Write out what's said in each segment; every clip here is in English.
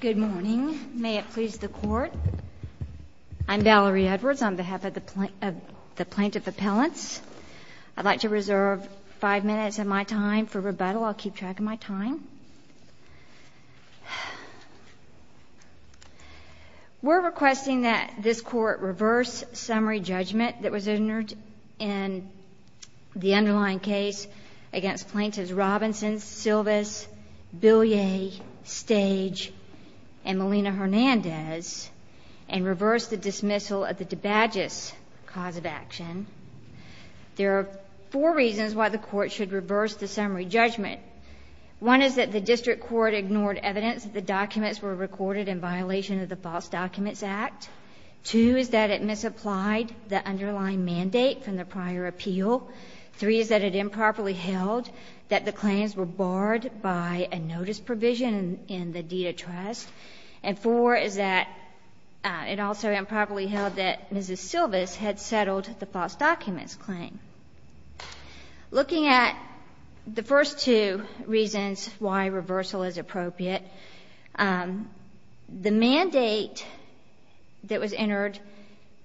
Good morning. May it please the court. I'm Valerie Edwards on behalf of the plaintiff appellants. I'd like to reserve five minutes of my time for rebuttal. I'll keep track of my time. We're requesting that this court reverse summary judgment that was entered in the and Malina Hernandez and reverse the dismissal of the DeBaggis cause of action. There are four reasons why the court should reverse the summary judgment. One is that the district court ignored evidence that the documents were recorded in violation of the False Documents Act. Two is that it misapplied the underlying mandate from the prior appeal. Three is that it improperly held that the claims were barred by a notice provision in the deed of trust. And four is that it also improperly held that Mrs. Silvis had settled the false documents claim. Looking at the first two reasons why reversal is appropriate, the mandate that was entered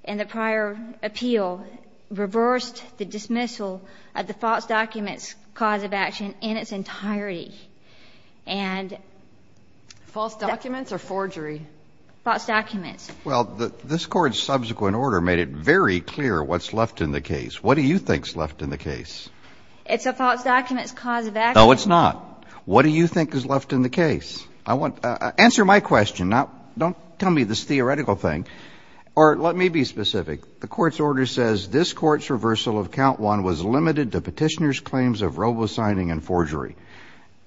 in the prior appeal reversed the dismissal of the false documents cause of action in its entirety. False documents or forgery? False documents. Well, this court's subsequent order made it very clear what's left in the case. What do you think's left in the case? It's a false documents cause of action. No, it's not. What do you think is left in the case? Answer my question. Don't tell me this theoretical thing. Or let me be specific. The court's order says this court's order says that the court's order is to remove the false documents claim from the case of robo-signing and forgery.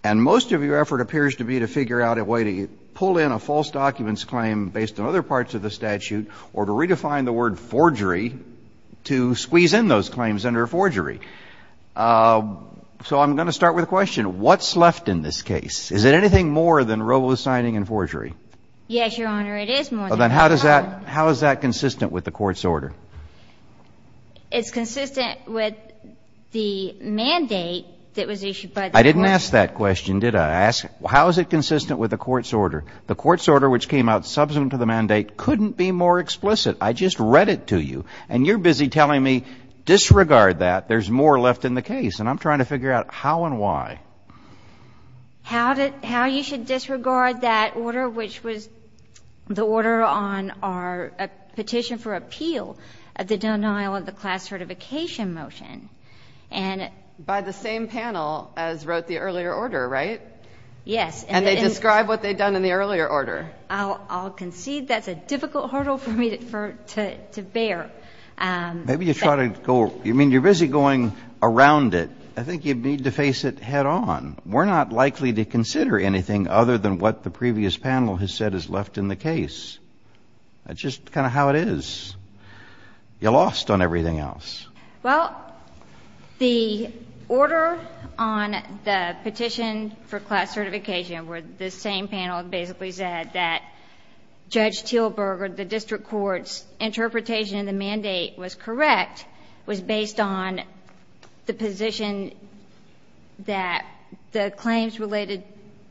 And most of your effort appears to be to figure out a way to pull in a false documents claim based on other parts of the statute or to redefine the word forgery to squeeze in those claims under forgery. So I'm going to start with a question. What's left in this case? Is it anything more than robo-signing and forgery? Yes, Your Honor, it is more than that. Well, then how does that how is that consistent with the court's order? It's consistent with the mandate that was issued by the court. I didn't ask that question, did I? I asked how is it consistent with the court's order? The court's order, which came out subsequent to the mandate, couldn't be more explicit. I just read it to you. And you're busy telling me disregard that. There's more left in the case. And I'm trying to figure out how and why. How you should disregard that order, which was the order on our petition for appeal of the denial of the class certification motion. And by the same panel as wrote the earlier order, right? Yes. And they describe what they've done in the earlier order. I'll concede that's a difficult hurdle for me to bear. Maybe you try to go you mean you're busy going around it. I think you need to face it head on. We're not likely to consider anything other than what the previous panel has said is left in the case. That's just kind of how it is. You're lost on everything else. Well, the order on the petition for class certification, where the same panel basically said that Judge Teelberger, the district court's interpretation of the mandate was correct, was based on the position that the claims related,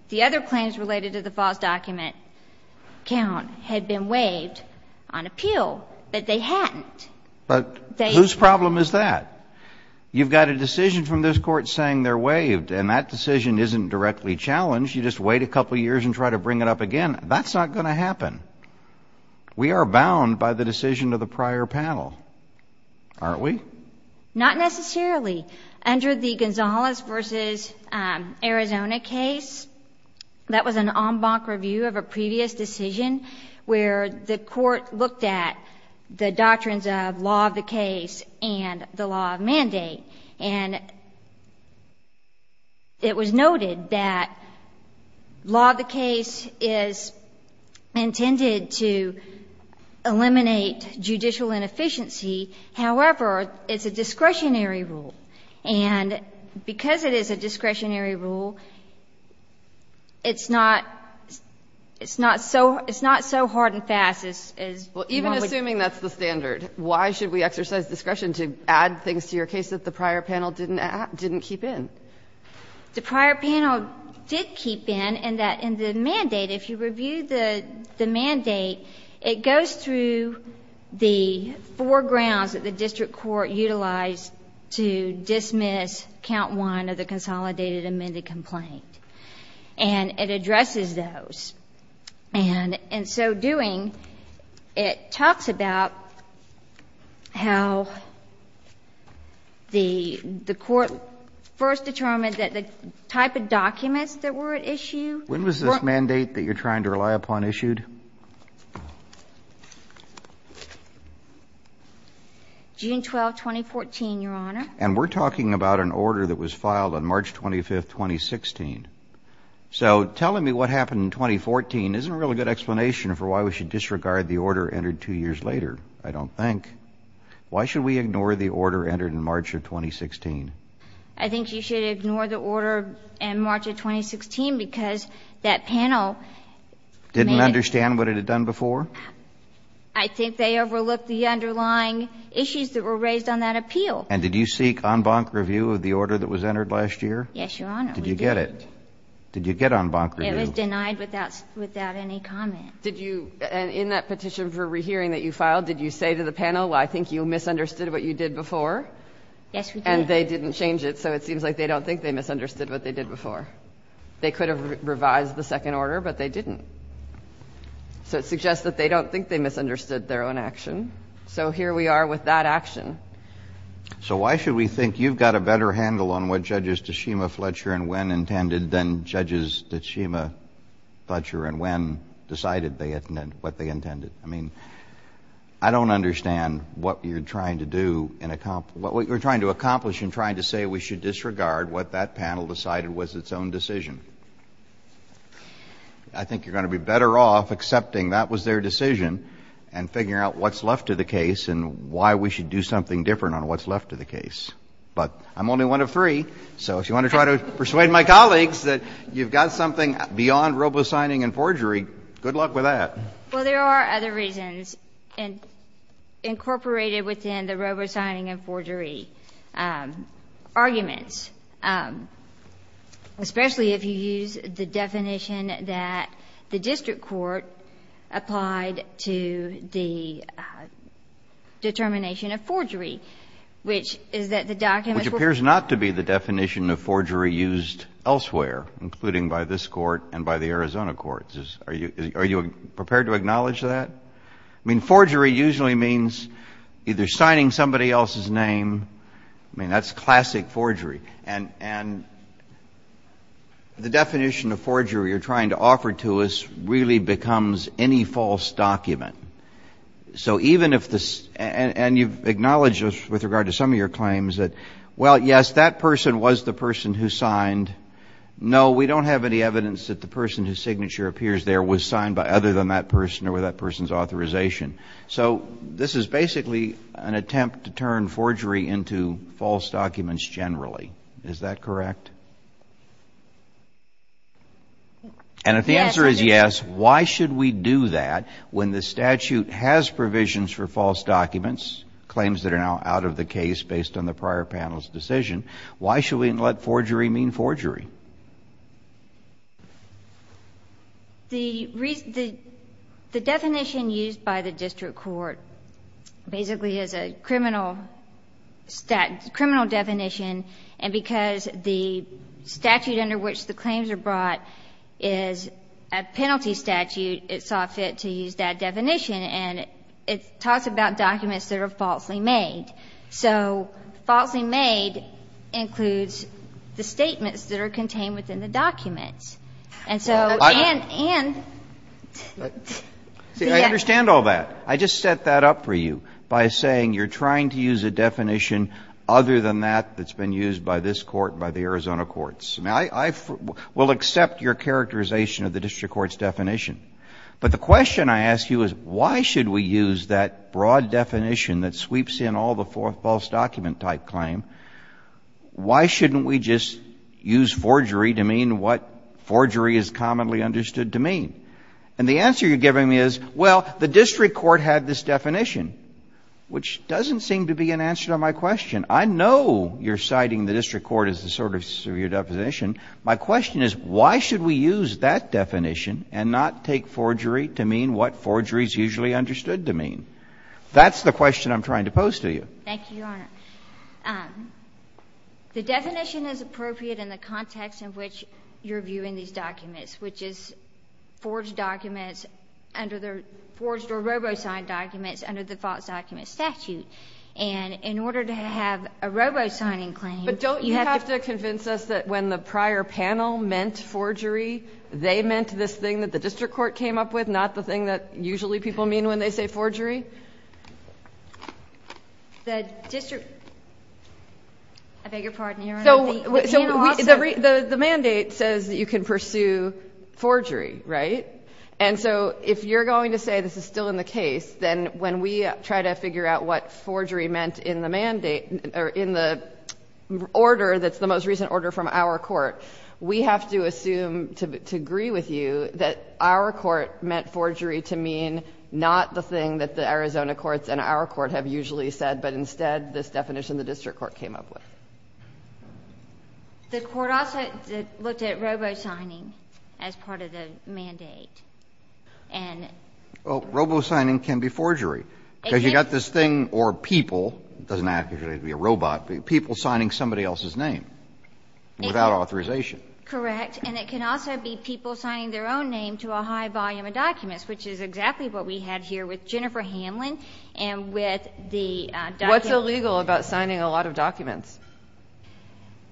the other claims related to the false document count had been waived on appeal, but they hadn't. But whose problem is that? You've got a decision from this court saying they're waived. And that decision isn't directly challenged. You just wait a couple of years and try to bring it up again. That's not going to happen. We are bound by the decision of the prior panel, aren't we? Not necessarily. Under the Gonzalez v. Arizona case, that was an en banc review of a previous decision where the court looked at the doctrines of law of the case and the law of mandate. And it was noted that law of the case is intended to eliminate judicial inefficiency. However, it's a discretionary rule. And because it is a discretionary rule, it's not so hard and fast as normally. Well, even assuming that's the standard, why should we exercise discretion to add things to your case that the prior panel didn't keep in? The prior panel did keep in, and that in the mandate, if you review the mandate, it goes through the four grounds that the district court utilized to dismiss count one of the consolidated amended complaint. And it addresses those. And in so doing, it talks about how the court first determined that the type of documents that were at issue were at issue. When was this mandate that you're trying to rely upon issued? June 12, 2014, Your Honor. And we're talking about an order that was filed on March 25, 2016. So telling me what happened in 2014 isn't a really good explanation for why we should disregard the order entered two years later, I don't think. Why should we ignore the order entered in March of 2016? I think you should ignore the order in March of 2016 because that panel made it — Didn't understand what it had done before? I think they overlooked the underlying issues that were raised on that appeal. And did you seek en banc review of the order that was entered last year? Yes, Your Honor, we did. Did you get it? Did you get en banc review? It was denied without any comment. Did you — in that petition for rehearing that you filed, did you say to the panel, well, I think you misunderstood what you did before? Yes, we did. And they didn't change it, so it seems like they don't think they misunderstood what they did before. They could have revised the second order, but they didn't. So it suggests that they don't think they misunderstood their own action. So here we are with that action. So why should we think you've got a better handle on what Judges Tshima, Fletcher, and Nguyen intended than Judges Tshima, Fletcher, and Nguyen decided what they intended? I mean, I don't understand what you're trying to do in — what you're trying to accomplish in trying to say we should disregard what that panel decided was its own decision. I think you're going to be better off accepting that was their decision and figuring out what's left of the case and why we should do something different on what's left of the case. But I'm only one of three, so if you want to try to persuade my colleagues that you've got something beyond robo-signing and forgery, good luck with that. Well, there are other reasons incorporated within the robo-signing and forgery arguments, especially if you use the definition that the district court applied to the determination of forgery, which is that the documents were — Which appears not to be the definition of forgery used elsewhere, including by this Court and by the Arizona courts. Are you prepared to acknowledge that? I mean, forgery usually means either signing somebody else's name — I mean, that's classic forgery. And the definition of forgery you're trying to offer to us really becomes any false document. So even if this — and you've acknowledged this with regard to some of your claims, that, well, yes, that person was the person who signed. No, we don't have any evidence that the person whose signature appears there was signed by other than that person or with that person's authorization. So this is basically an attempt to turn forgery into false documents generally. Is that correct? And if the answer is yes, why should we do that when the statute has provisions for false documents, claims that are now out of the case based on the prior panel's decision? Why should we let forgery mean forgery? The definition used by the district court basically is a criminal definition, and because the statute under which the claims are brought is a penalty statute, it saw fit to use that definition. And it talks about documents that are falsely made. So falsely made includes the statements that are considered false. And so, in other words, the defendant is not allowed to use a definition that is not contained within the document. And so, and — I understand all that. I just set that up for you by saying you're trying to use a definition other than that that's been used by this Court and by the Arizona courts. Now, I will accept your characterization of the district court's definition, but the question I ask you is why should we use that broad definition that sweeps in all the false document-type claim? Why shouldn't we just use forgery to mean what forgery is commonly understood to mean? And the answer you're giving me is, well, the district court had this definition, which doesn't seem to be an answer to my question. I know you're citing the district court as a sort of severe definition. My question is why should we use that definition and not take forgery to mean what forgery is usually understood to mean? That's the question I'm trying to pose to you. Thank you, Your Honor. The definition is appropriate in the context in which you're viewing these documents, which is forged documents under the — forged or robo-signed documents under the false document statute. And in order to have a robo-signing claim — Do you have to convince us that when the prior panel meant forgery, they meant this thing that the district court came up with, not the thing that usually people mean when they say forgery? The district — I beg your pardon, Your Honor. So the mandate says that you can pursue forgery, right? And so if you're going to say this is still in the case, then when we try to figure out what forgery meant in the mandate — in the order that's the most recent order from our court, we have to assume to agree with you that our court meant forgery to mean not the thing that the Arizona courts and our court have usually said, but instead this definition the district court came up with. The court also looked at robo-signing as part of the mandate. And — Well, robo-signing can be forgery. Because you've got this thing or people — it doesn't have to be a robot — people signing somebody else's name without authorization. Correct. And it can also be people signing their own name to a high volume of documents, which is exactly what we had here with Jennifer Hamlin and with the — What's illegal about signing a lot of documents?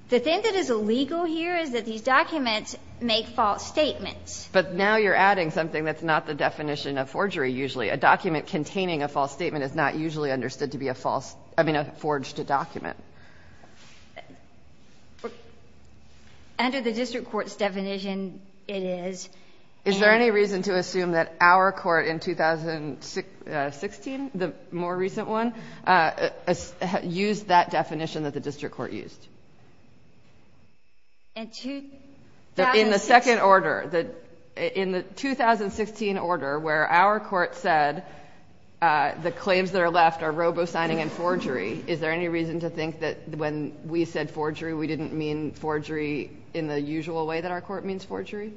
The thing that is illegal here is that these documents make false statements. But now you're adding something that's not the definition of forgery usually, a document containing a false statement is not usually understood to be a false — I mean, a forged document. Under the district court's definition, it is. Is there any reason to assume that our court in 2016, the more recent one, used that definition that the district court used? In 2016 — The claims that are left are robo-signing and forgery. Is there any reason to think that when we said forgery, we didn't mean forgery in the usual way that our court means forgery?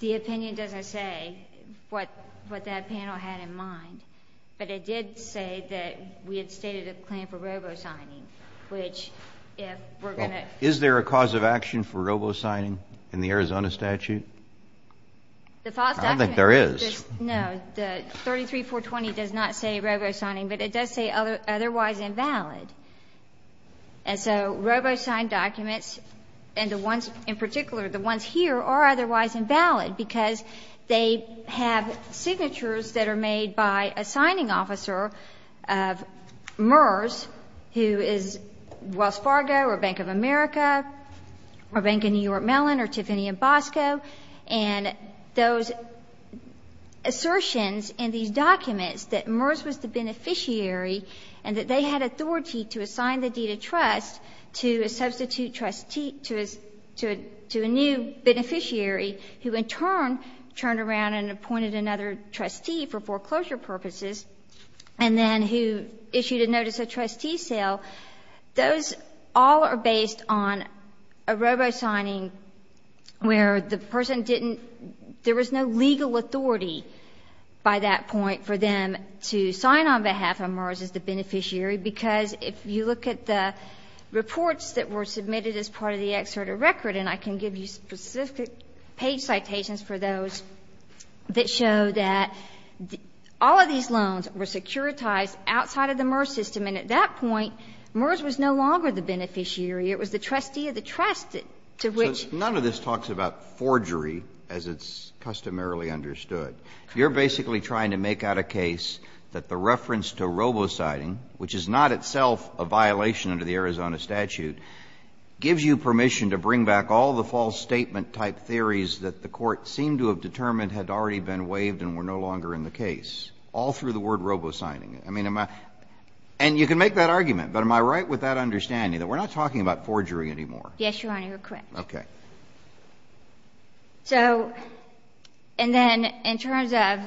The opinion doesn't say what that panel had in mind. But it did say that we had stated a claim for robo-signing, which if we're going to — Is there a cause of action for robo-signing in the Arizona statute? I don't think there is. No, the 33-420 does not say robo-signing, but it does say otherwise invalid. And so robo-signed documents, and the ones in particular, the ones here, are otherwise invalid because they have signatures that are made by a signing officer of MERS, who is Wells Fargo or Bank of America or Bank of New York Mellon or Tiffany & Bosco. And those assertions in these documents that MERS was the beneficiary and that they had authority to assign the deed of trust to a substitute trustee — to a new beneficiary, who in turn turned around and appointed another trustee for foreclosure purposes, and then who issued a notice of trustee sale, those all are based on a robo-signing where the person didn't — there was no legal authority by that point for them to sign on behalf of MERS as the beneficiary because if you look at the reports that were submitted as part of the exerted record, and I can give you specific page citations for those that show that all of these loans were securitized outside of the MERS system, and at that point, MERS was no longer the beneficiary. It was the trustee of the trust to which — So none of this talks about forgery as it's customarily understood. You're basically trying to make out a case that the reference to robo-signing, which is not itself a violation under the Arizona statute, gives you permission to bring back all the false statement-type theories that the Court seemed to have determined had already been waived and were no longer in the case, all through the word robo-signing. And you can make that argument, but am I right with that understanding that we're not talking about forgery anymore? Yes, Your Honor, you're correct. Okay. So, and then in terms of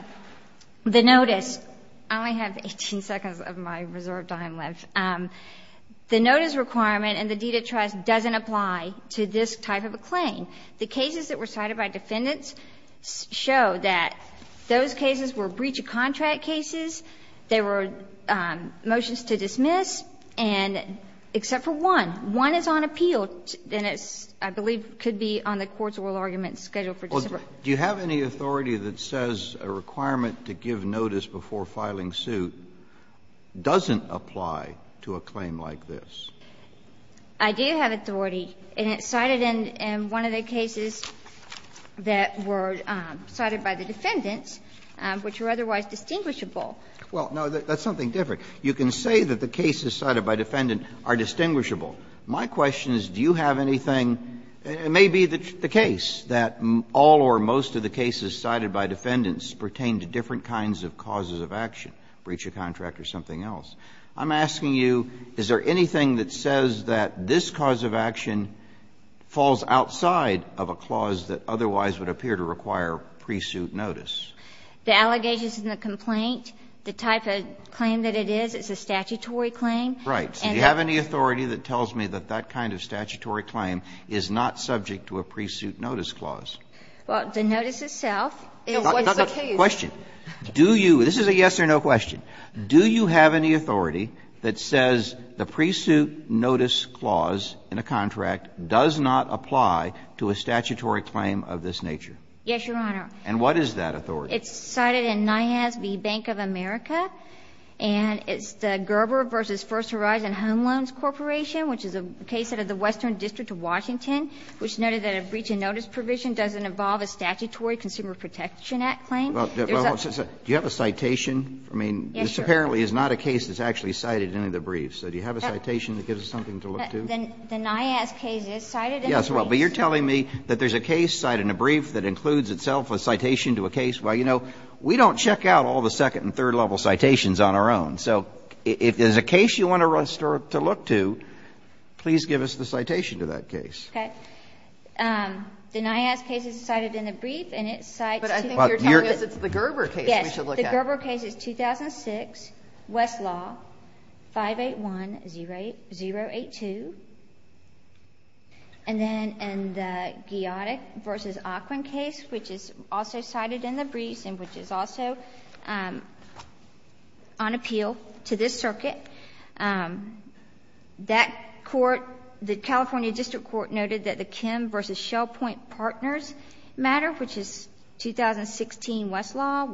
the notice, I only have 18 seconds of my reserve time left. The notice requirement in the deed of trust doesn't apply to this type of a claim. The cases that were cited by defendants show that those cases were breach of contract cases, they were motions to dismiss, and except for one, one is on appeal, and it's, I believe, could be on the court's oral argument schedule for December. Well, do you have any authority that says a requirement to give notice before filing suit doesn't apply to a claim like this? I do have authority, and it's cited in one of the cases that were cited by the defendants, which were otherwise distinguishable. Well, no, that's something different. You can say that the cases cited by defendants are distinguishable. My question is, do you have anything, and it may be the case that all or most of the cases cited by defendants pertain to different kinds of causes of action, breach of contract or something else. I'm asking you, is there anything that says that this cause of action falls outside of a clause that otherwise would appear to require pre-suit notice? The allegations in the complaint, the type of claim that it is, it's a statutory claim. Right. So do you have any authority that tells me that that kind of statutory claim is not subject to a pre-suit notice clause? Well, the notice itself is the case. Question. Do you? This is a yes or no question. Do you have any authority that says the pre-suit notice clause in a contract does not apply to a statutory claim of this nature? Yes, Your Honor. And what is that authority? It's cited in NIAS v. Bank of America and it's the Gerber v. First Horizon Home Loans Corporation, which is a case out of the Western District of Washington, which noted that a breach of notice provision doesn't involve a statutory Consumer Protection Act claim. Well, do you have a citation? I mean, this apparently is not a case that's actually cited in the brief. So do you have a citation that gives us something to look to? The NIAS case is cited in the brief. Yes, well, but you're telling me that there's a case cited in a brief that includes itself a citation to a case? Well, you know, we don't check out all the second and third level citations on our own. So if there's a case you want to look to, please give us the citation to that case. Okay. The NIAS case is cited in the brief and it cites... But I think you're telling us it's the Gerber case we should look at. Yes. The Gerber case is 2006, Westlaw, 581-082. And then in the Giotic v. Aquin case, which is also cited in the brief and which is also on appeal to this circuit, that court, the California District Court, noted that the Kim v. Shellpoint Partners matter, which is 2016, Westlaw,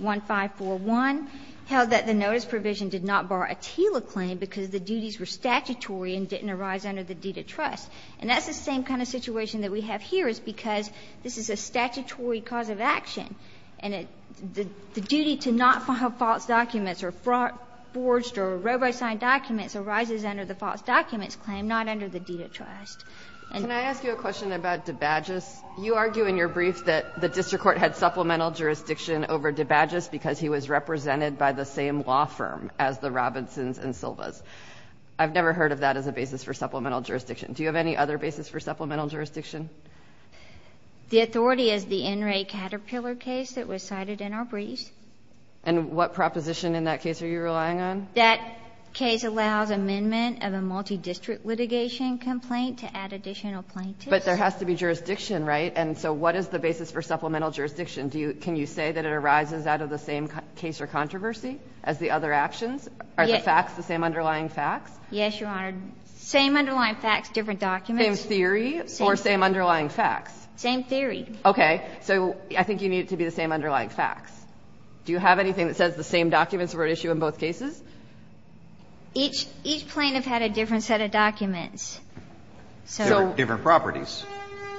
124-1541, held that the notice provision did not bar a TILA claim because the duties were statutory and didn't arise under the deed of trust. And that's the same kind of situation that we have here is because this is a statutory cause of action and the duty to not file false documents or forged or robo-signed documents arises under the false documents claim, not under the deed of trust. Can I ask you a question about DeBaggis? You argue in your brief that the District Court had supplemental jurisdiction over DeBaggis because he was represented by the same law firm as the Robinsons and Silva's. I've never heard of that as a basis for supplemental jurisdiction. Do you have any other basis for supplemental jurisdiction? The authority is the NRA Caterpillar case that was cited in our brief. And what proposition in that case are you relying on? That case allows amendment of a multi-district litigation complaint to add additional plaintiffs. But there has to be jurisdiction, right? And so what is the basis for supplemental jurisdiction? Can you say that it arises out of the same case or controversy as the other actions? Are the facts the same underlying facts? Yes, Your Honor. Same underlying facts, different documents. Same theory or same underlying facts? Same theory. Okay. So I think you need it to be the same underlying facts. Do you have anything that says the same documents were at issue in both cases? Each plaintiff had a different set of documents. Different properties.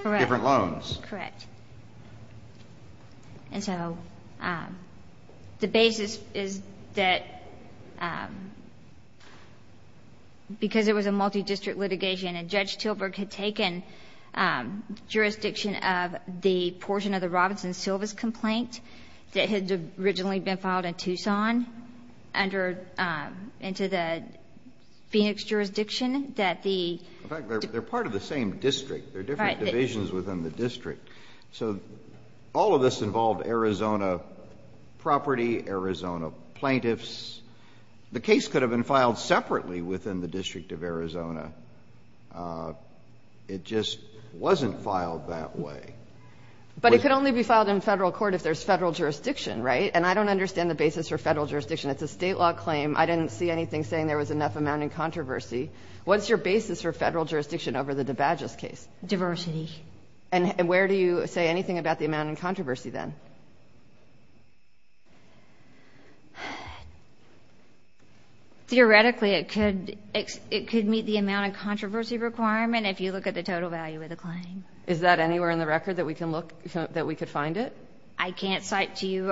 Correct. Different loans. Correct. And so the basis is that because it was a multi-district litigation and Judge Tilburg had taken jurisdiction of the portion of the Robinson-Silvas complaint that had originally been filed in Tucson under into the Phoenix jurisdiction, that the ---- In fact, they're part of the same district. They're different divisions within the district. So all of this involved Arizona property, Arizona plaintiffs. The case could have been filed separately within the District of Arizona. It just wasn't filed that way. But it could only be filed in Federal court if there's Federal jurisdiction, right? And I don't understand the basis for Federal jurisdiction. It's a State law claim. I didn't see anything saying there was enough amount in controversy. What's your basis for Federal jurisdiction over the DeBagis case? Diversity. And where do you say anything about the amount in controversy then? Theoretically, it could meet the amount of controversy requirement if you look at the total value of the claim. Is that anywhere in the record that we can look, that we could find it? I can't cite to you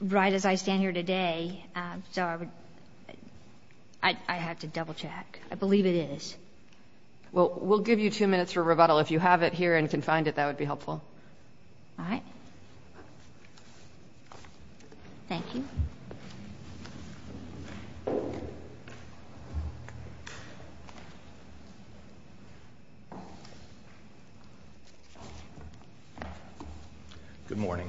right as I stand here today. So I have to double check. I believe it is. Well, we'll give you two minutes for rebuttal. If you have it here and can find it, that would be helpful. All right. Thank you. Good morning.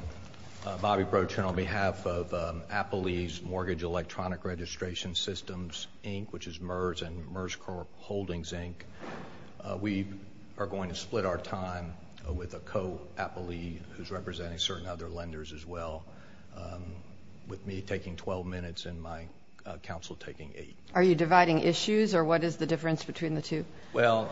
Bobby Procher on behalf of Appalee's Mortgage Electronic Registration Systems, Inc., which is MERS and MERS Holdings, Inc. We are going to split our time with a co-appalee who's representing certain other lenders as well, with me taking 12 minutes and my counsel taking eight. Are you dividing issues or what is the difference between the two? Well,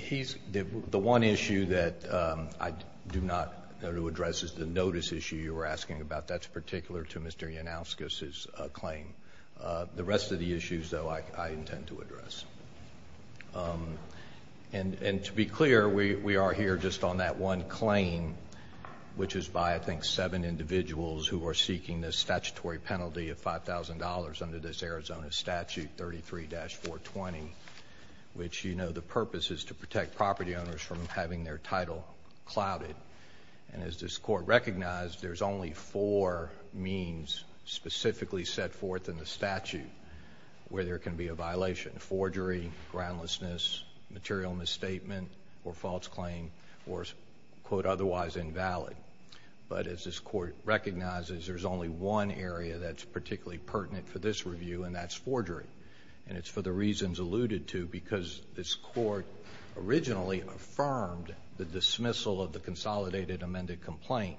the one issue that I do not know to address is the notice issue you were asking about. That's particular to Mr. Yanouskis' claim. The rest of the issues, though, I intend to address. And to be clear, we are here just on that one claim, which is by, I think, seven individuals who are seeking the statutory penalty of $5,000 under this Arizona statute 33-420, which you know the purpose is to protect property owners from having their title clouded. And as this court recognized, there's only four means specifically set forth in the statute where there can be a violation, forgery, groundlessness, material misstatement, or false claim, or quote, otherwise invalid. But as this court recognizes, there's only one area that's particularly pertinent for this review, and that's forgery. And it's for the reasons alluded to because this court originally affirmed the dismissal of the consolidated amended complaint,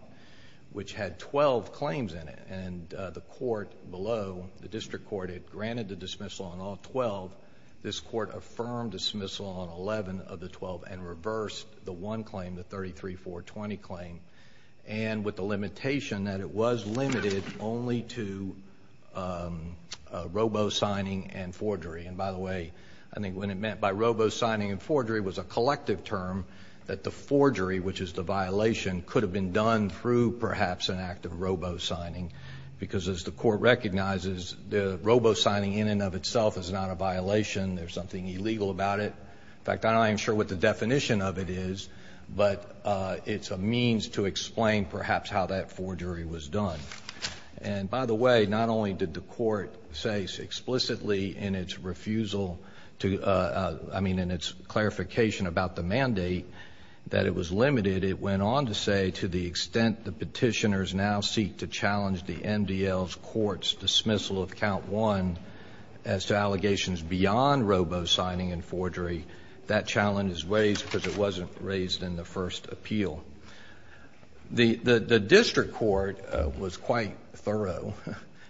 which had 12 claims in it. And the court below, the district court, had granted the dismissal on all 12. This court affirmed dismissal on 11 of the 12 and reversed the one claim, the 33-420 claim. And with the limitation that it was limited only to robo-signing and forgery. And by the way, I think what it meant by robo-signing and forgery was a collective term that the forgery, which is the violation, could have been done through perhaps an act of robo-signing. Because as the court recognizes, robo-signing in and of itself is not a violation. There's something illegal about it. In fact, I'm not sure what the definition of it is, but it's a means to explain perhaps how that forgery was done. And by the way, not only did the court say explicitly in its refusal to, I mean, in its clarification about the mandate that it was limited, it went on to say to the extent the petitioners now seek to challenge the MDL's court's dismissal of count one as to allegations beyond robo-signing and forgery, that challenge is raised because it wasn't raised in the first appeal. The district court was quite thorough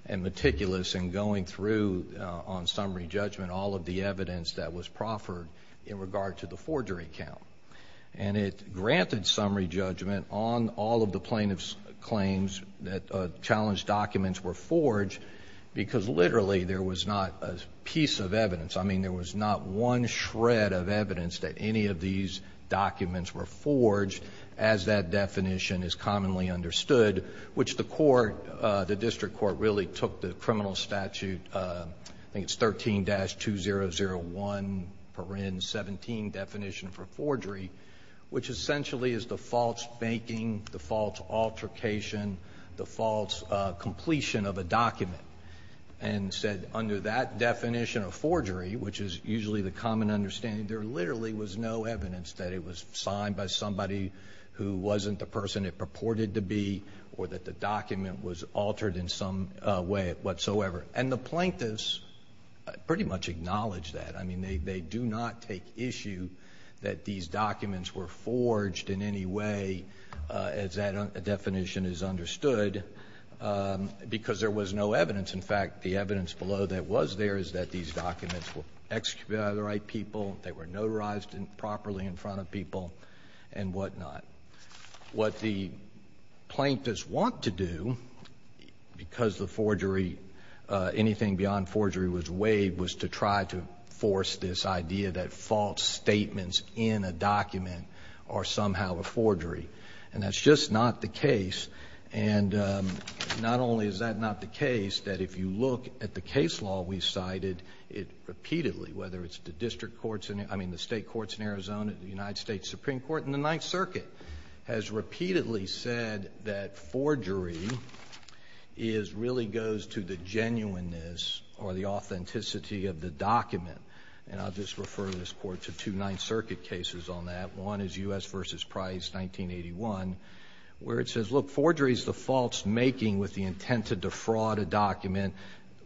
and meticulous in going through on summary judgment all of the evidence that was proffered in regard to the forgery count. And it granted summary judgment on all of the plaintiff's claims that challenged documents were forged because literally there was not a piece of evidence. I mean, there was not one shred of evidence that any of these documents were forged as that definition is commonly understood, which the court, the district court, really took the criminal statute, I think it's 13-2001, 17 definition for forgery, which essentially is the false banking, the false altercation, the false completion of a document, and said under that definition of forgery, which is usually the common understanding, there literally was no evidence that it was signed by somebody who wasn't the person it purported to be or that the document was altered in some way whatsoever. And the plaintiffs pretty much acknowledged that. I mean, they do not take issue that these documents were forged in any way as that definition is understood, because there was no evidence. In fact, the evidence below that was there is that these documents were executed by the right people, they were notarized properly in front of people, and whatnot. What the plaintiffs want to do, because the forgery, anything beyond forgery was waived, was to try to force this idea that false statements in a document are somehow a forgery. And that's just not the case. And not only is that not the case, that if you look at the case law we cited, it repeatedly, whether it's the district courts, I mean the state courts in Arizona, the United States Supreme Court, and the Ninth Circuit, has repeatedly said that forgery really goes to the genuineness or the authenticity of the document. And I'll just refer this Court to two Ninth Circuit cases on that. One is U.S. v. Price, 1981, where it says, look, forgery is the false making with the intent to defraud a document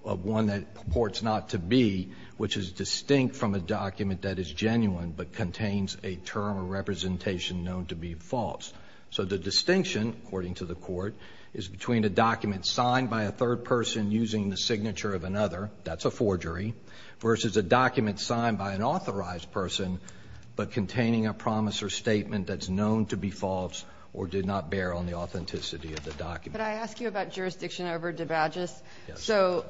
of one that it purports not to be, which is distinct from a document that is genuine but contains a term or representation known to be false. So the distinction, according to the Court, is between a document signed by a third person using the signature of another, that's a forgery, versus a document signed by an authorized person but containing a promise or statement that's known to be false or did not bear on the authenticity of the document. Could I ask you about jurisdiction over debauchess? Yes. So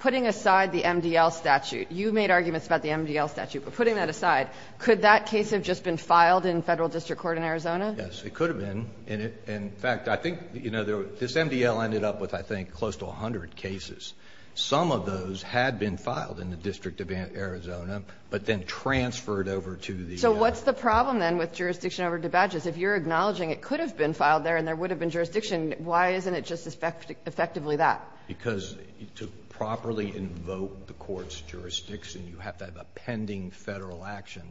putting aside the MDL statute, you made arguments about the MDL statute, but putting that aside, could that case have just been filed in Federal district court in Arizona? Yes. It could have been. And in fact, I think, you know, this MDL ended up with, I think, close to 100 cases. Some of those had been filed in the District of Arizona, but then transferred over to the U.S. So what's the problem, then, with jurisdiction over debauchess? If you're acknowledging it could have been filed there and there would have been jurisdiction, why isn't it just effectively that? Because to properly invoke the Court's jurisdiction, you have to have a pending Federal action.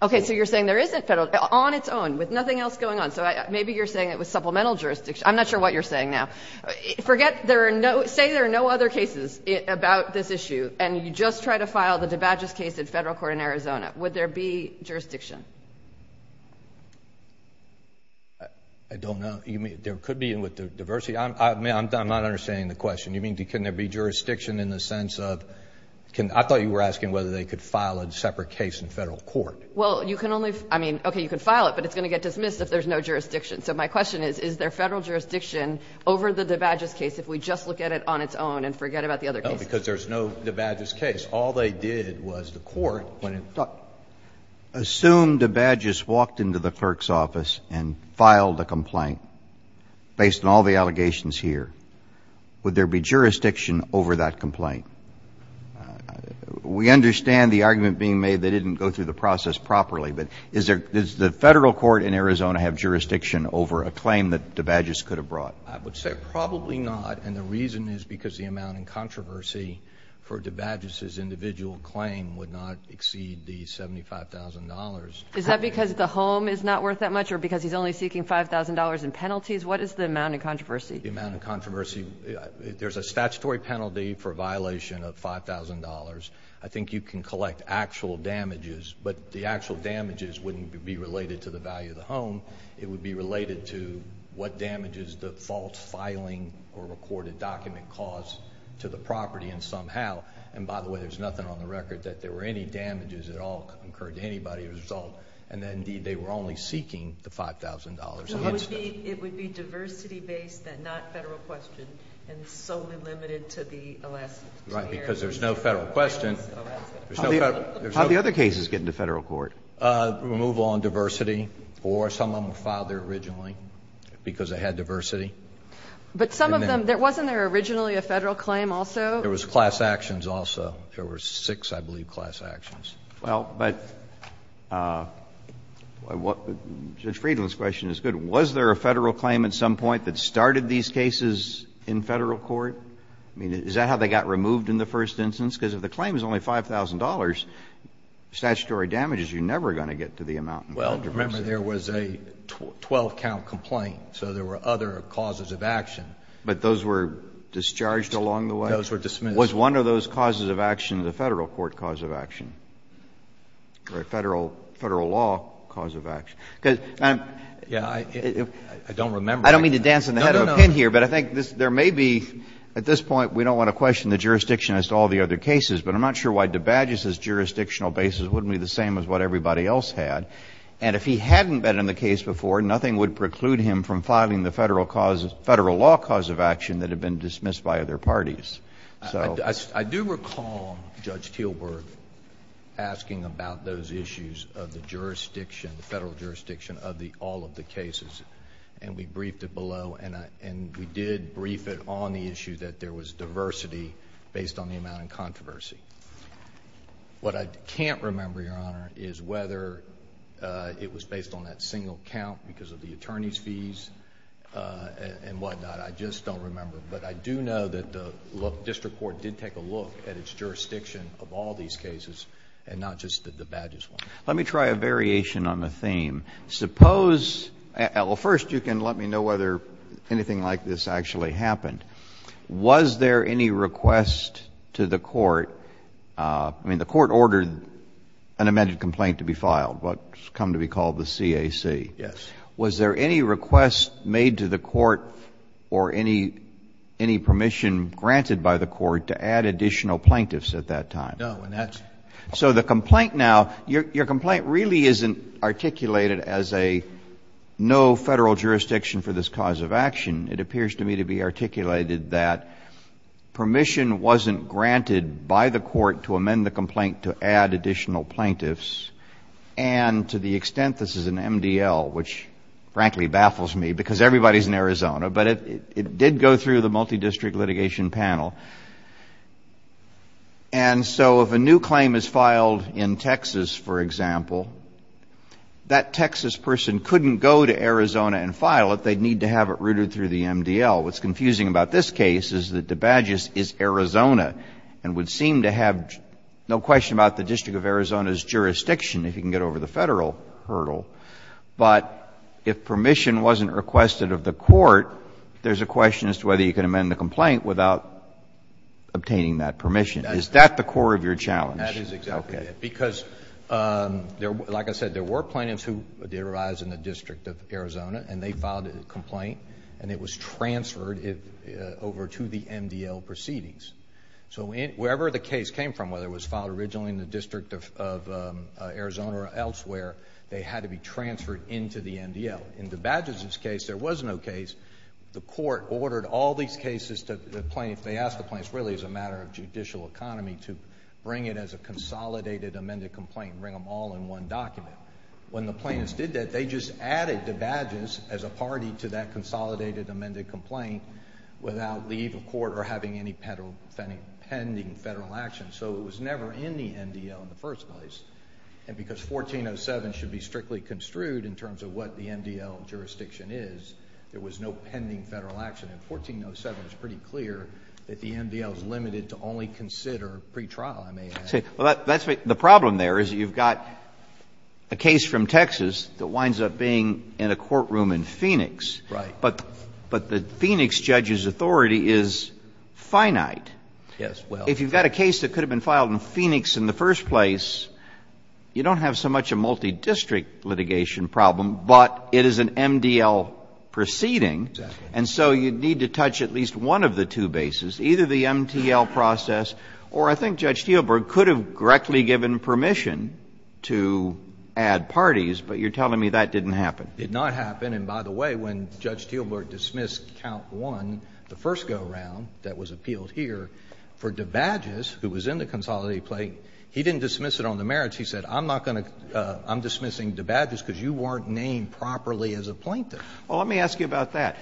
Okay. So you're saying there isn't Federal. On its own, with nothing else going on. So maybe you're saying it was supplemental jurisdiction. I'm not sure what you're saying now. Say there are no other cases about this issue, and you just try to file the debauchess case in Federal court in Arizona. Would there be jurisdiction? I don't know. There could be with diversity. I'm not understanding the question. You mean, can there be jurisdiction in the sense of – I thought you were asking whether they could file a separate case in Federal court. Well, you can only – I mean, okay, you can file it, but it's going to get dismissed if there's no jurisdiction. So my question is, is there Federal jurisdiction over the debauchess case if we just look at it on its own and forget about the other cases? No, because there's no debauchess case. All they did was the Court, when it – Assume debauchess walked into the clerk's office and filed a complaint based on all the allegations here. Would there be jurisdiction over that complaint? We understand the argument being made they didn't go through the process properly, but is there – does the Federal court in Arizona have jurisdiction over a claim that debauchess could have brought? I would say probably not, and the reason is because the amount in controversy for debauchess's individual claim would not exceed the $75,000. Is that because the home is not worth that much or because he's only seeking $5,000 in penalties? What is the amount in controversy? The amount in controversy – there's a statutory penalty for violation of $5,000. I think you can collect actual damages, but the actual damages wouldn't be related to the value of the home. It would be related to what damages the false filing or recorded document caused to the property and somehow – and by the way, there's nothing on the record that there were any damages at all incurred to anybody as a result. And then, indeed, they were only seeking the $5,000. So it would be – it would be diversity-based and not Federal question and solely limited to the Alaskan area? Right, because there's no Federal question. How did the other cases get into Federal court? Removal on diversity, or some of them were filed there originally because they had diversity. But some of them – wasn't there originally a Federal claim also? There was class actions also. There were six, I believe, class actions. Well, but, Judge Friedland's question is good. Was there a Federal claim at some point that started these cases in Federal court? I mean, is that how they got removed in the first instance? Because if the claim is only $5,000, statutory damages, you're never going to get to the amount involved. Well, remember there was a 12-count complaint, so there were other causes of action. But those were discharged along the way? Those were dismissed. Was one of those causes of action the Federal court cause of action? Or a Federal law cause of action? Yeah, I don't remember. I don't mean to dance on the head of a pin here, but I think there may be, at this point, we don't want to question the jurisdiction as to all the other cases, but I'm not sure why DeBadge's jurisdictional basis wouldn't be the same as what everybody else had. And if he hadn't been in the case before, nothing would preclude him from filing the Federal law cause of action that had been dismissed by other parties. I do recall Judge Teelberg asking about those issues of the jurisdiction, the Federal jurisdiction, of all of the cases. And we briefed it below. And we did brief it on the issue that there was diversity based on the amount in controversy. What I can't remember, Your Honor, is whether it was based on that single count because of the attorney's fees and whatnot. I just don't remember. But I do know that the district court did take a look at its jurisdiction of all these cases and not just DeBadge's one. Let me try a variation on the theme. Suppose, well, first you can let me know whether anything like this actually happened. Was there any request to the court, I mean, the court ordered an amended complaint to be filed, what's come to be called the CAC. Yes. Was there any request made to the court or any permission granted by the court to add additional plaintiffs at that time? No. And that's. So the complaint now, your complaint really isn't articulated as a no Federal jurisdiction for this cause of action. It appears to me to be articulated that permission wasn't granted by the court to amend the complaint to add additional plaintiffs. And to the extent this is an MDL, which frankly baffles me because everybody is in Arizona, but it did go through the multi-district litigation panel. And so if a new claim is filed in Texas, for example, that Texas person couldn't go to Arizona and file it. They'd need to have it routed through the MDL. What's confusing about this case is that DeBadge's is Arizona and would seem to have no question about the District of Arizona's jurisdiction if you can get over the Federal hurdle. But if permission wasn't requested of the court, there's a question as to whether you can amend the complaint without obtaining that permission. Is that the core of your challenge? That is exactly it. Because, like I said, there were plaintiffs who did arise in the District of Arizona and they filed a complaint and it was transferred over to the MDL proceedings. So wherever the case came from, whether it was filed originally in the District of Arizona or elsewhere, they had to be transferred into the MDL. In DeBadge's case, there was no case. The court ordered all these cases to the plaintiffs. They asked the plaintiffs really as a matter of judicial economy to bring it as a consolidated amended complaint, bring them all in one document. When the plaintiffs did that, they just added DeBadge's as a party to that pending Federal action. So it was never in the MDL in the first place. And because 1407 should be strictly construed in terms of what the MDL jurisdiction is, there was no pending Federal action. And 1407 is pretty clear that the MDL is limited to only consider pretrial, I may add. The problem there is you've got a case from Texas that winds up being in a courtroom in Phoenix. Right. But the Phoenix judge's authority is finite. Yes. If you've got a case that could have been filed in Phoenix in the first place, you don't have so much a multidistrict litigation problem, but it is an MDL proceeding. Exactly. And so you'd need to touch at least one of the two bases, either the MTL process or I think Judge Steelberg could have directly given permission to add parties, but you're telling me that didn't happen. It did not happen. And by the way, when Judge Steelberg dismissed count one, the first go-around that was appealed here, for DeBadges, who was in the consolidated plaintiff, he didn't dismiss it on the merits. He said, I'm not going to — I'm dismissing DeBadges because you weren't named properly as a plaintiff. Well, let me ask you about that.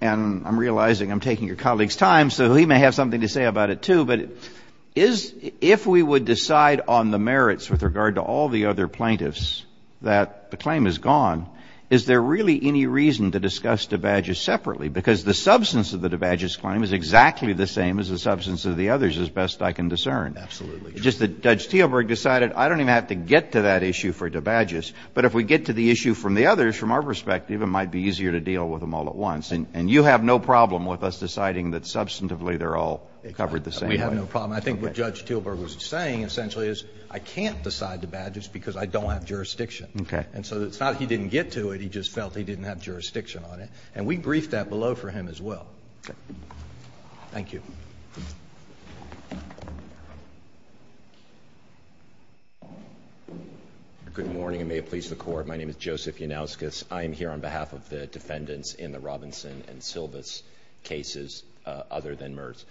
And I'm realizing I'm taking your colleague's time, so he may have something to say about it, too. But is — if we would decide on the merits with regard to all the other plaintiffs that the claim is gone, is there really any reason to discuss DeBadges separately? Because the substance of the DeBadges claim is exactly the same as the substance of the others, as best I can discern. Absolutely. Just that Judge Steelberg decided I don't even have to get to that issue for DeBadges, but if we get to the issue from the others, from our perspective, it might be easier to deal with them all at once. And you have no problem with us deciding that substantively they're all covered the same way. We have no problem. I think what Judge Steelberg was saying essentially is I can't decide DeBadges because I don't have jurisdiction. Okay. And so it's not that he didn't get to it. He just felt he didn't have jurisdiction on it. And we briefed that below for him as well. Okay. Thank you. Good morning, and may it please the Court. My name is Joseph Yannowskis. I am here on behalf of the defendants in the Robinson and Silva's cases, other than Mertz.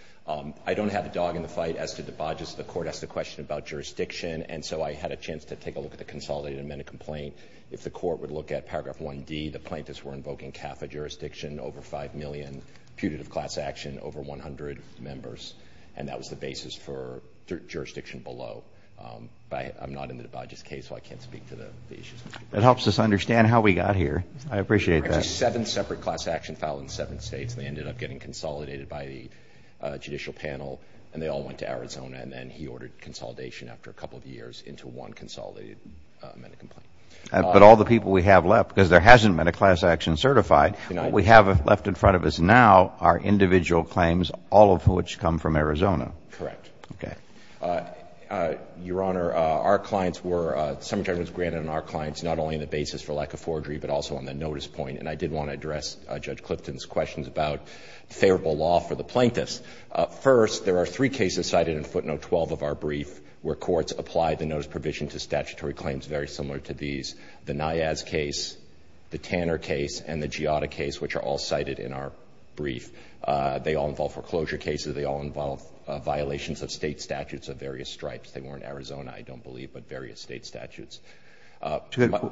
I don't have a dog in the fight as to DeBadges. The court asked a question about jurisdiction, and so I had a chance to take a look at the consolidated amendment complaint. If the court would look at paragraph 1D, the plaintiffs were invoking CAFA jurisdiction, over 5 million, putative class action, over 100 members, and that was the basis for jurisdiction below. I'm not in DeBadges' case, so I can't speak to the issues. That helps us understand how we got here. I appreciate that. There were actually seven separate class action files in seven states, and they ended up getting consolidated by the judicial panel, and they all went to Arizona, and then he ordered consolidation after a couple of years into one consolidated amendment complaint. But all the people we have left, because there hasn't been a class action certified, what we have left in front of us now are individual claims, all of which come from Arizona. Correct. Okay. Your Honor, our clients were — the subject was granted on our clients, not only on the basis for lack of forgery, but also on the notice point. And I did want to address Judge Clifton's questions about favorable law for the plaintiffs. First, there are three cases cited in footnote 12 of our brief where courts apply the notice provision to statutory claims very similar to these. The Niaz case, the Tanner case, and the Giotta case, which are all cited in our brief. They all involve foreclosure cases. They all involve violations of state statutes of various stripes. They were in Arizona, I don't believe, but various state statutes.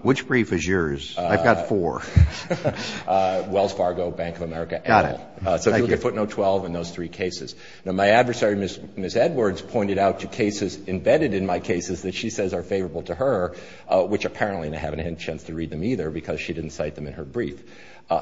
Which brief is yours? I've got four. Wells Fargo, Bank of America. Got it. Thank you. They're footnote 12 in those three cases. Now, my adversary, Ms. Edwards, pointed out to cases embedded in my cases that she says are favorable to her, which apparently I haven't had a chance to read them either because she didn't cite them in her brief.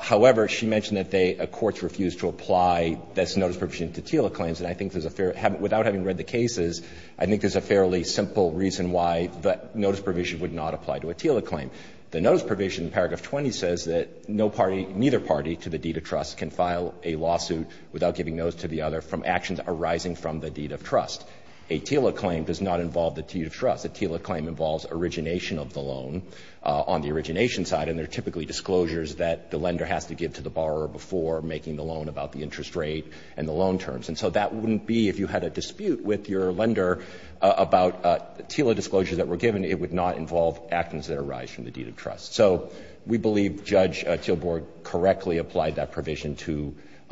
However, she mentioned that they — courts refused to apply this notice provision to TILA claims. And I think there's a fair — without having read the cases, I think there's a fairly simple reason why the notice provision would not apply to a TILA claim. The notice provision in paragraph 20 says that no party, neither party to the deed of trust, can file a lawsuit without giving notice to the other from actions arising from the deed of trust. A TILA claim does not involve the deed of trust. A TILA claim involves origination of the loan on the origination side, and there are typically disclosures that the lender has to give to the borrower before making the loan about the interest rate and the loan terms. And so that wouldn't be — if you had a dispute with your lender about TILA disclosures that were given, it would not involve actions that arise from the deed of trust. So we believe Judge Tillburg correctly applied that provision to —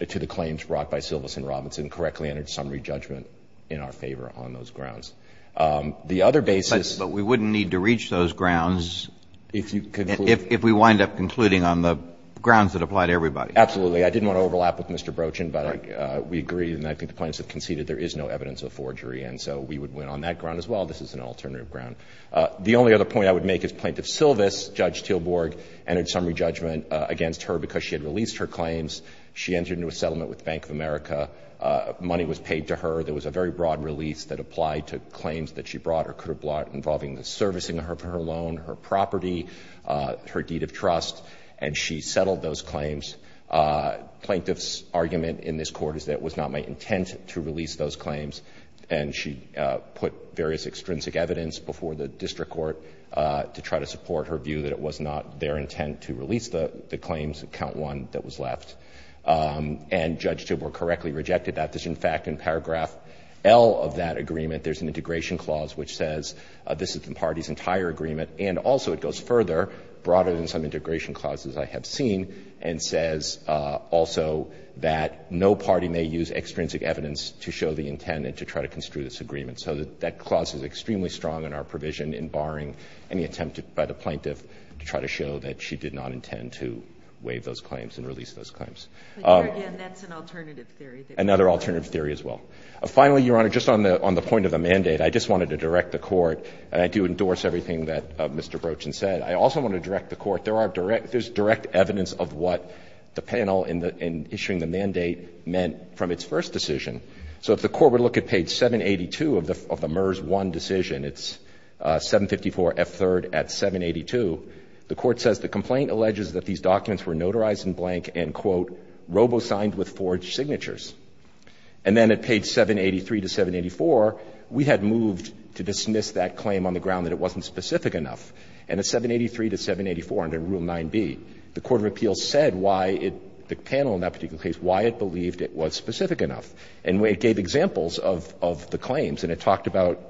to the claims brought by Silverson and Robinson, correctly entered summary judgment in our favor on those grounds. The other basis — Kennedy, but we wouldn't need to reach those grounds if we wind up concluding on the grounds that apply to everybody. Absolutely. I didn't want to overlap with Mr. Brochin, but we agree, and I think the plaintiffs have conceded there is no evidence of forgery. And so we would win on that ground as well. This is an alternative ground. The only other point I would make is Plaintiff Silvers, Judge Tillburg, entered summary judgment against her because she had released her claims. She entered into a settlement with Bank of America. Money was paid to her. There was a very broad release that applied to claims that she brought or could have brought involving the servicing of her loan, her property, her deed of trust, and she settled those claims. Plaintiff's argument in this Court is that it was not my intent to release those to try to support her view that it was not their intent to release the claims, count one, that was left. And Judge Tillburg correctly rejected that. In fact, in paragraph L of that agreement, there's an integration clause which says this is the party's entire agreement. And also it goes further, broader than some integration clauses I have seen, and says also that no party may use extrinsic evidence to show the intent and to try to construe this agreement. So that clause is extremely strong in our provision in barring any attempt by the plaintiff to try to show that she did not intend to waive those claims and release those claims. Another alternative theory as well. Finally, Your Honor, just on the point of the mandate, I just wanted to direct the Court, and I do endorse everything that Mr. Brochin said, I also want to direct the Court. There's direct evidence of what the panel in issuing the mandate meant from its first decision. So if the Court would look at page 782 of the MERS 1 decision, it's 754 F3rd at 782, the Court says the complaint alleges that these documents were notarized in blank and, quote, robo-signed with forged signatures. And then at page 783 to 784, we had moved to dismiss that claim on the ground that it wasn't specific enough. And at 783 to 784 under Rule 9b, the court of appeals said why it, the panel in that it gave examples of the claims, and it talked about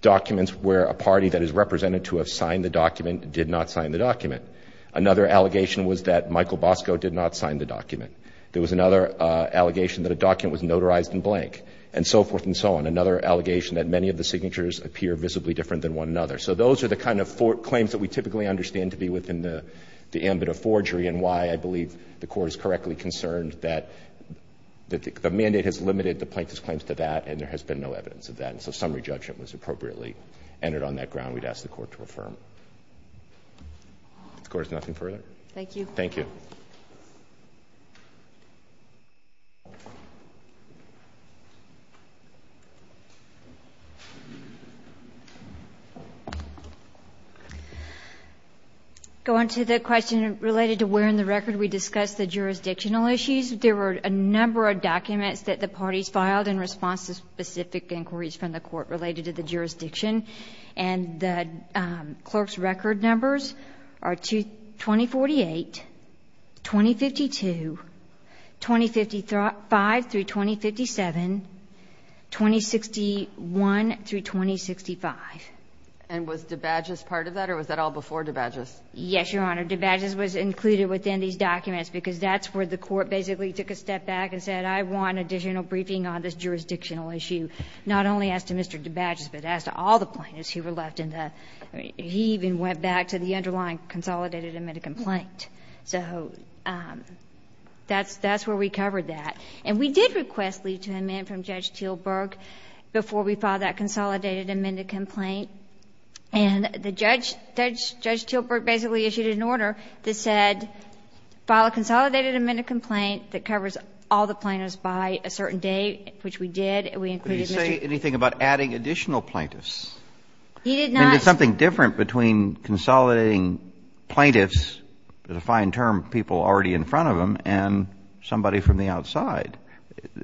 documents where a party that is represented to have signed the document did not sign the document. Another allegation was that Michael Bosco did not sign the document. There was another allegation that a document was notarized in blank, and so forth and so on. Another allegation that many of the signatures appear visibly different than one another. So those are the kind of claims that we typically understand to be within the ambit of forgery and why I believe the Court is correctly concerned that the mandate has limited the plaintiff's claims to that and there has been no evidence of that. And so summary judgment was appropriately entered on that ground we'd ask the Court to affirm. If the Court has nothing further. Thank you. Thank you. Go on to the question related to where in the record we discussed the jurisdictional issues. There were a number of documents that the parties filed in response to specific inquiries from the Court related to the jurisdiction. And the clerk's record numbers are 2048, 2052, 2055 through 2057, 2061 through 2065. And was DeBadgis part of that or was that all before DeBadgis? Yes, Your Honor. DeBadgis was included within these documents because that's where the Court basically took a step back and said I want additional briefing on this jurisdictional issue. Not only as to Mr. DeBadgis, but as to all the plaintiffs who were left in the, he even went back to the underlying consolidated amended complaint. So that's where we covered that. And we did request leave to amend from Judge Teelburg before we filed that consolidated amended complaint. And the judge, Judge Teelburg basically issued an order that said file a consolidated amended complaint that covers all the plaintiffs by a certain date, which we did. We included Mr. ---- Could you say anything about adding additional plaintiffs? He did not ---- I mean, there's something different between consolidating plaintiffs, the fine term people already in front of them, and somebody from the outside.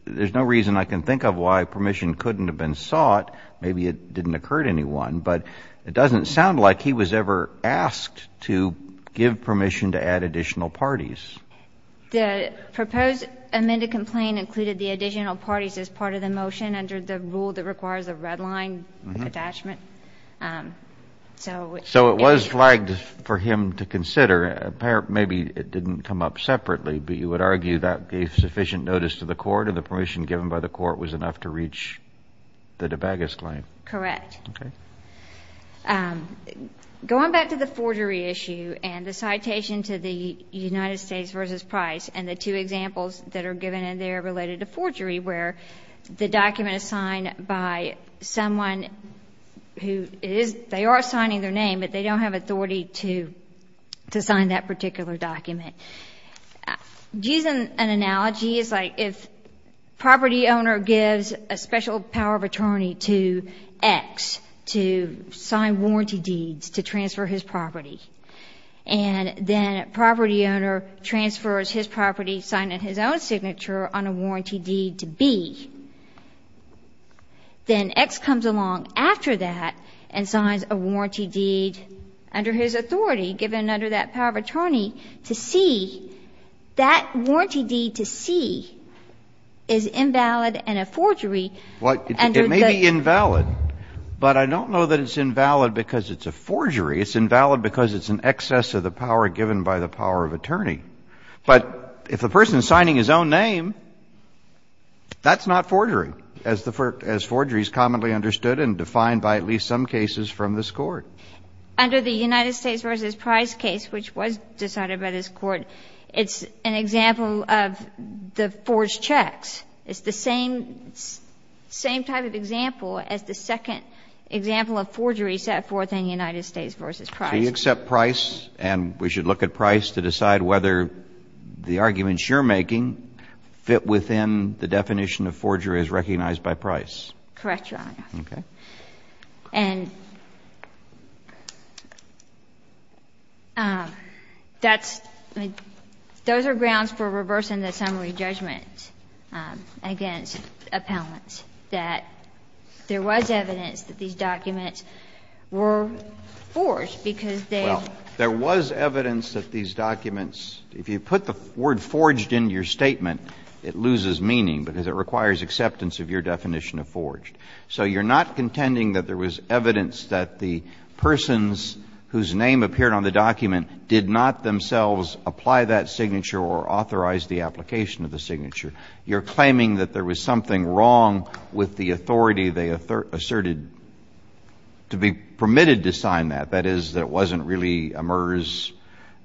There's no reason I can think of why permission couldn't have been sought. Maybe it didn't occur to anyone. But it doesn't sound like he was ever asked to give permission to add additional parties. The proposed amended complaint included the additional parties as part of the motion under the rule that requires a red line attachment. So it was ---- So it was flagged for him to consider. Maybe it didn't come up separately, but you would argue that gave sufficient notice to the court and the permission given by the court was enough to reach the DeBagas claim. Correct. Okay. Going back to the forgery issue and the citation to the United States versus Price and the two examples that are given in there related to forgery where the document is signed by someone who is, they are signing their name, but they don't have authority to sign that particular document. Using an analogy, it's like if property owner gives a special power of attorney to X to sign warranty deeds to transfer his property, and then property owner transfers his property signed in his own signature on a warranty deed to B, then X comes along after that and signs a warranty deed under his authority given under that power of attorney to C, that warranty deed to C is invalid and a forgery under the ---- Well, it may be invalid, but I don't know that it's invalid because it's a forgery. It's invalid because it's an excess of the power given by the power of attorney. But if a person is signing his own name, that's not forgery, as the forgery is commonly understood and defined by at least some cases from this Court. Under the United States v. Price case, which was decided by this Court, it's an example of the forged checks. It's the same type of example as the second example of forgery set forth in United States v. Price. So you accept Price, and we should look at Price to decide whether the arguments you're making fit within the definition of forgery as recognized by Price. Correct, Your Honor. Okay. And that's the ---- those are grounds for reversing the summary judgment against appellants, that there was evidence that these documents were forged because they ---- Well, there was evidence that these documents ---- if you put the word forged into your statement, it loses meaning because it requires acceptance of your definition of forged. So you're not contending that there was evidence that the persons whose name appeared on the document did not themselves apply that signature or authorize the application of the signature. You're claiming that there was something wrong with the authority they asserted to be permitted to sign that, that is, that it wasn't really a MERS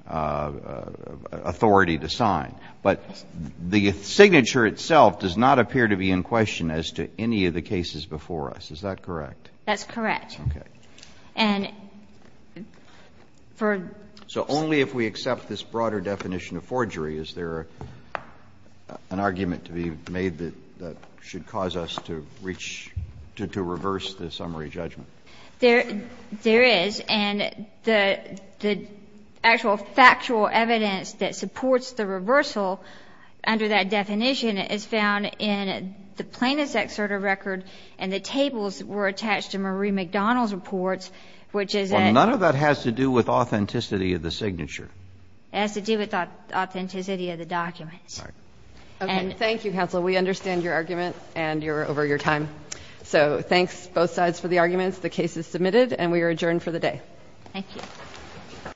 authority to sign. But the signature itself does not appear to be in question as to any of the cases before us. Is that correct? That's correct. Okay. And for ---- So only if we accept this broader definition of forgery is there an argument to be made that should cause us to reach to reverse the summary judgment. There is. And the actual factual evidence that supports the reversal under that definition is found in the plaintiff's excerpt of record and the tables were attached to Marie MacDonald's reports, which is a ---- Well, none of that has to do with authenticity of the signature. It has to do with authenticity of the documents. Okay. Thank you, counsel. We understand your argument and you're over your time. So thanks, both sides, for the arguments. The case is submitted and we are adjourned for the day. Thank you.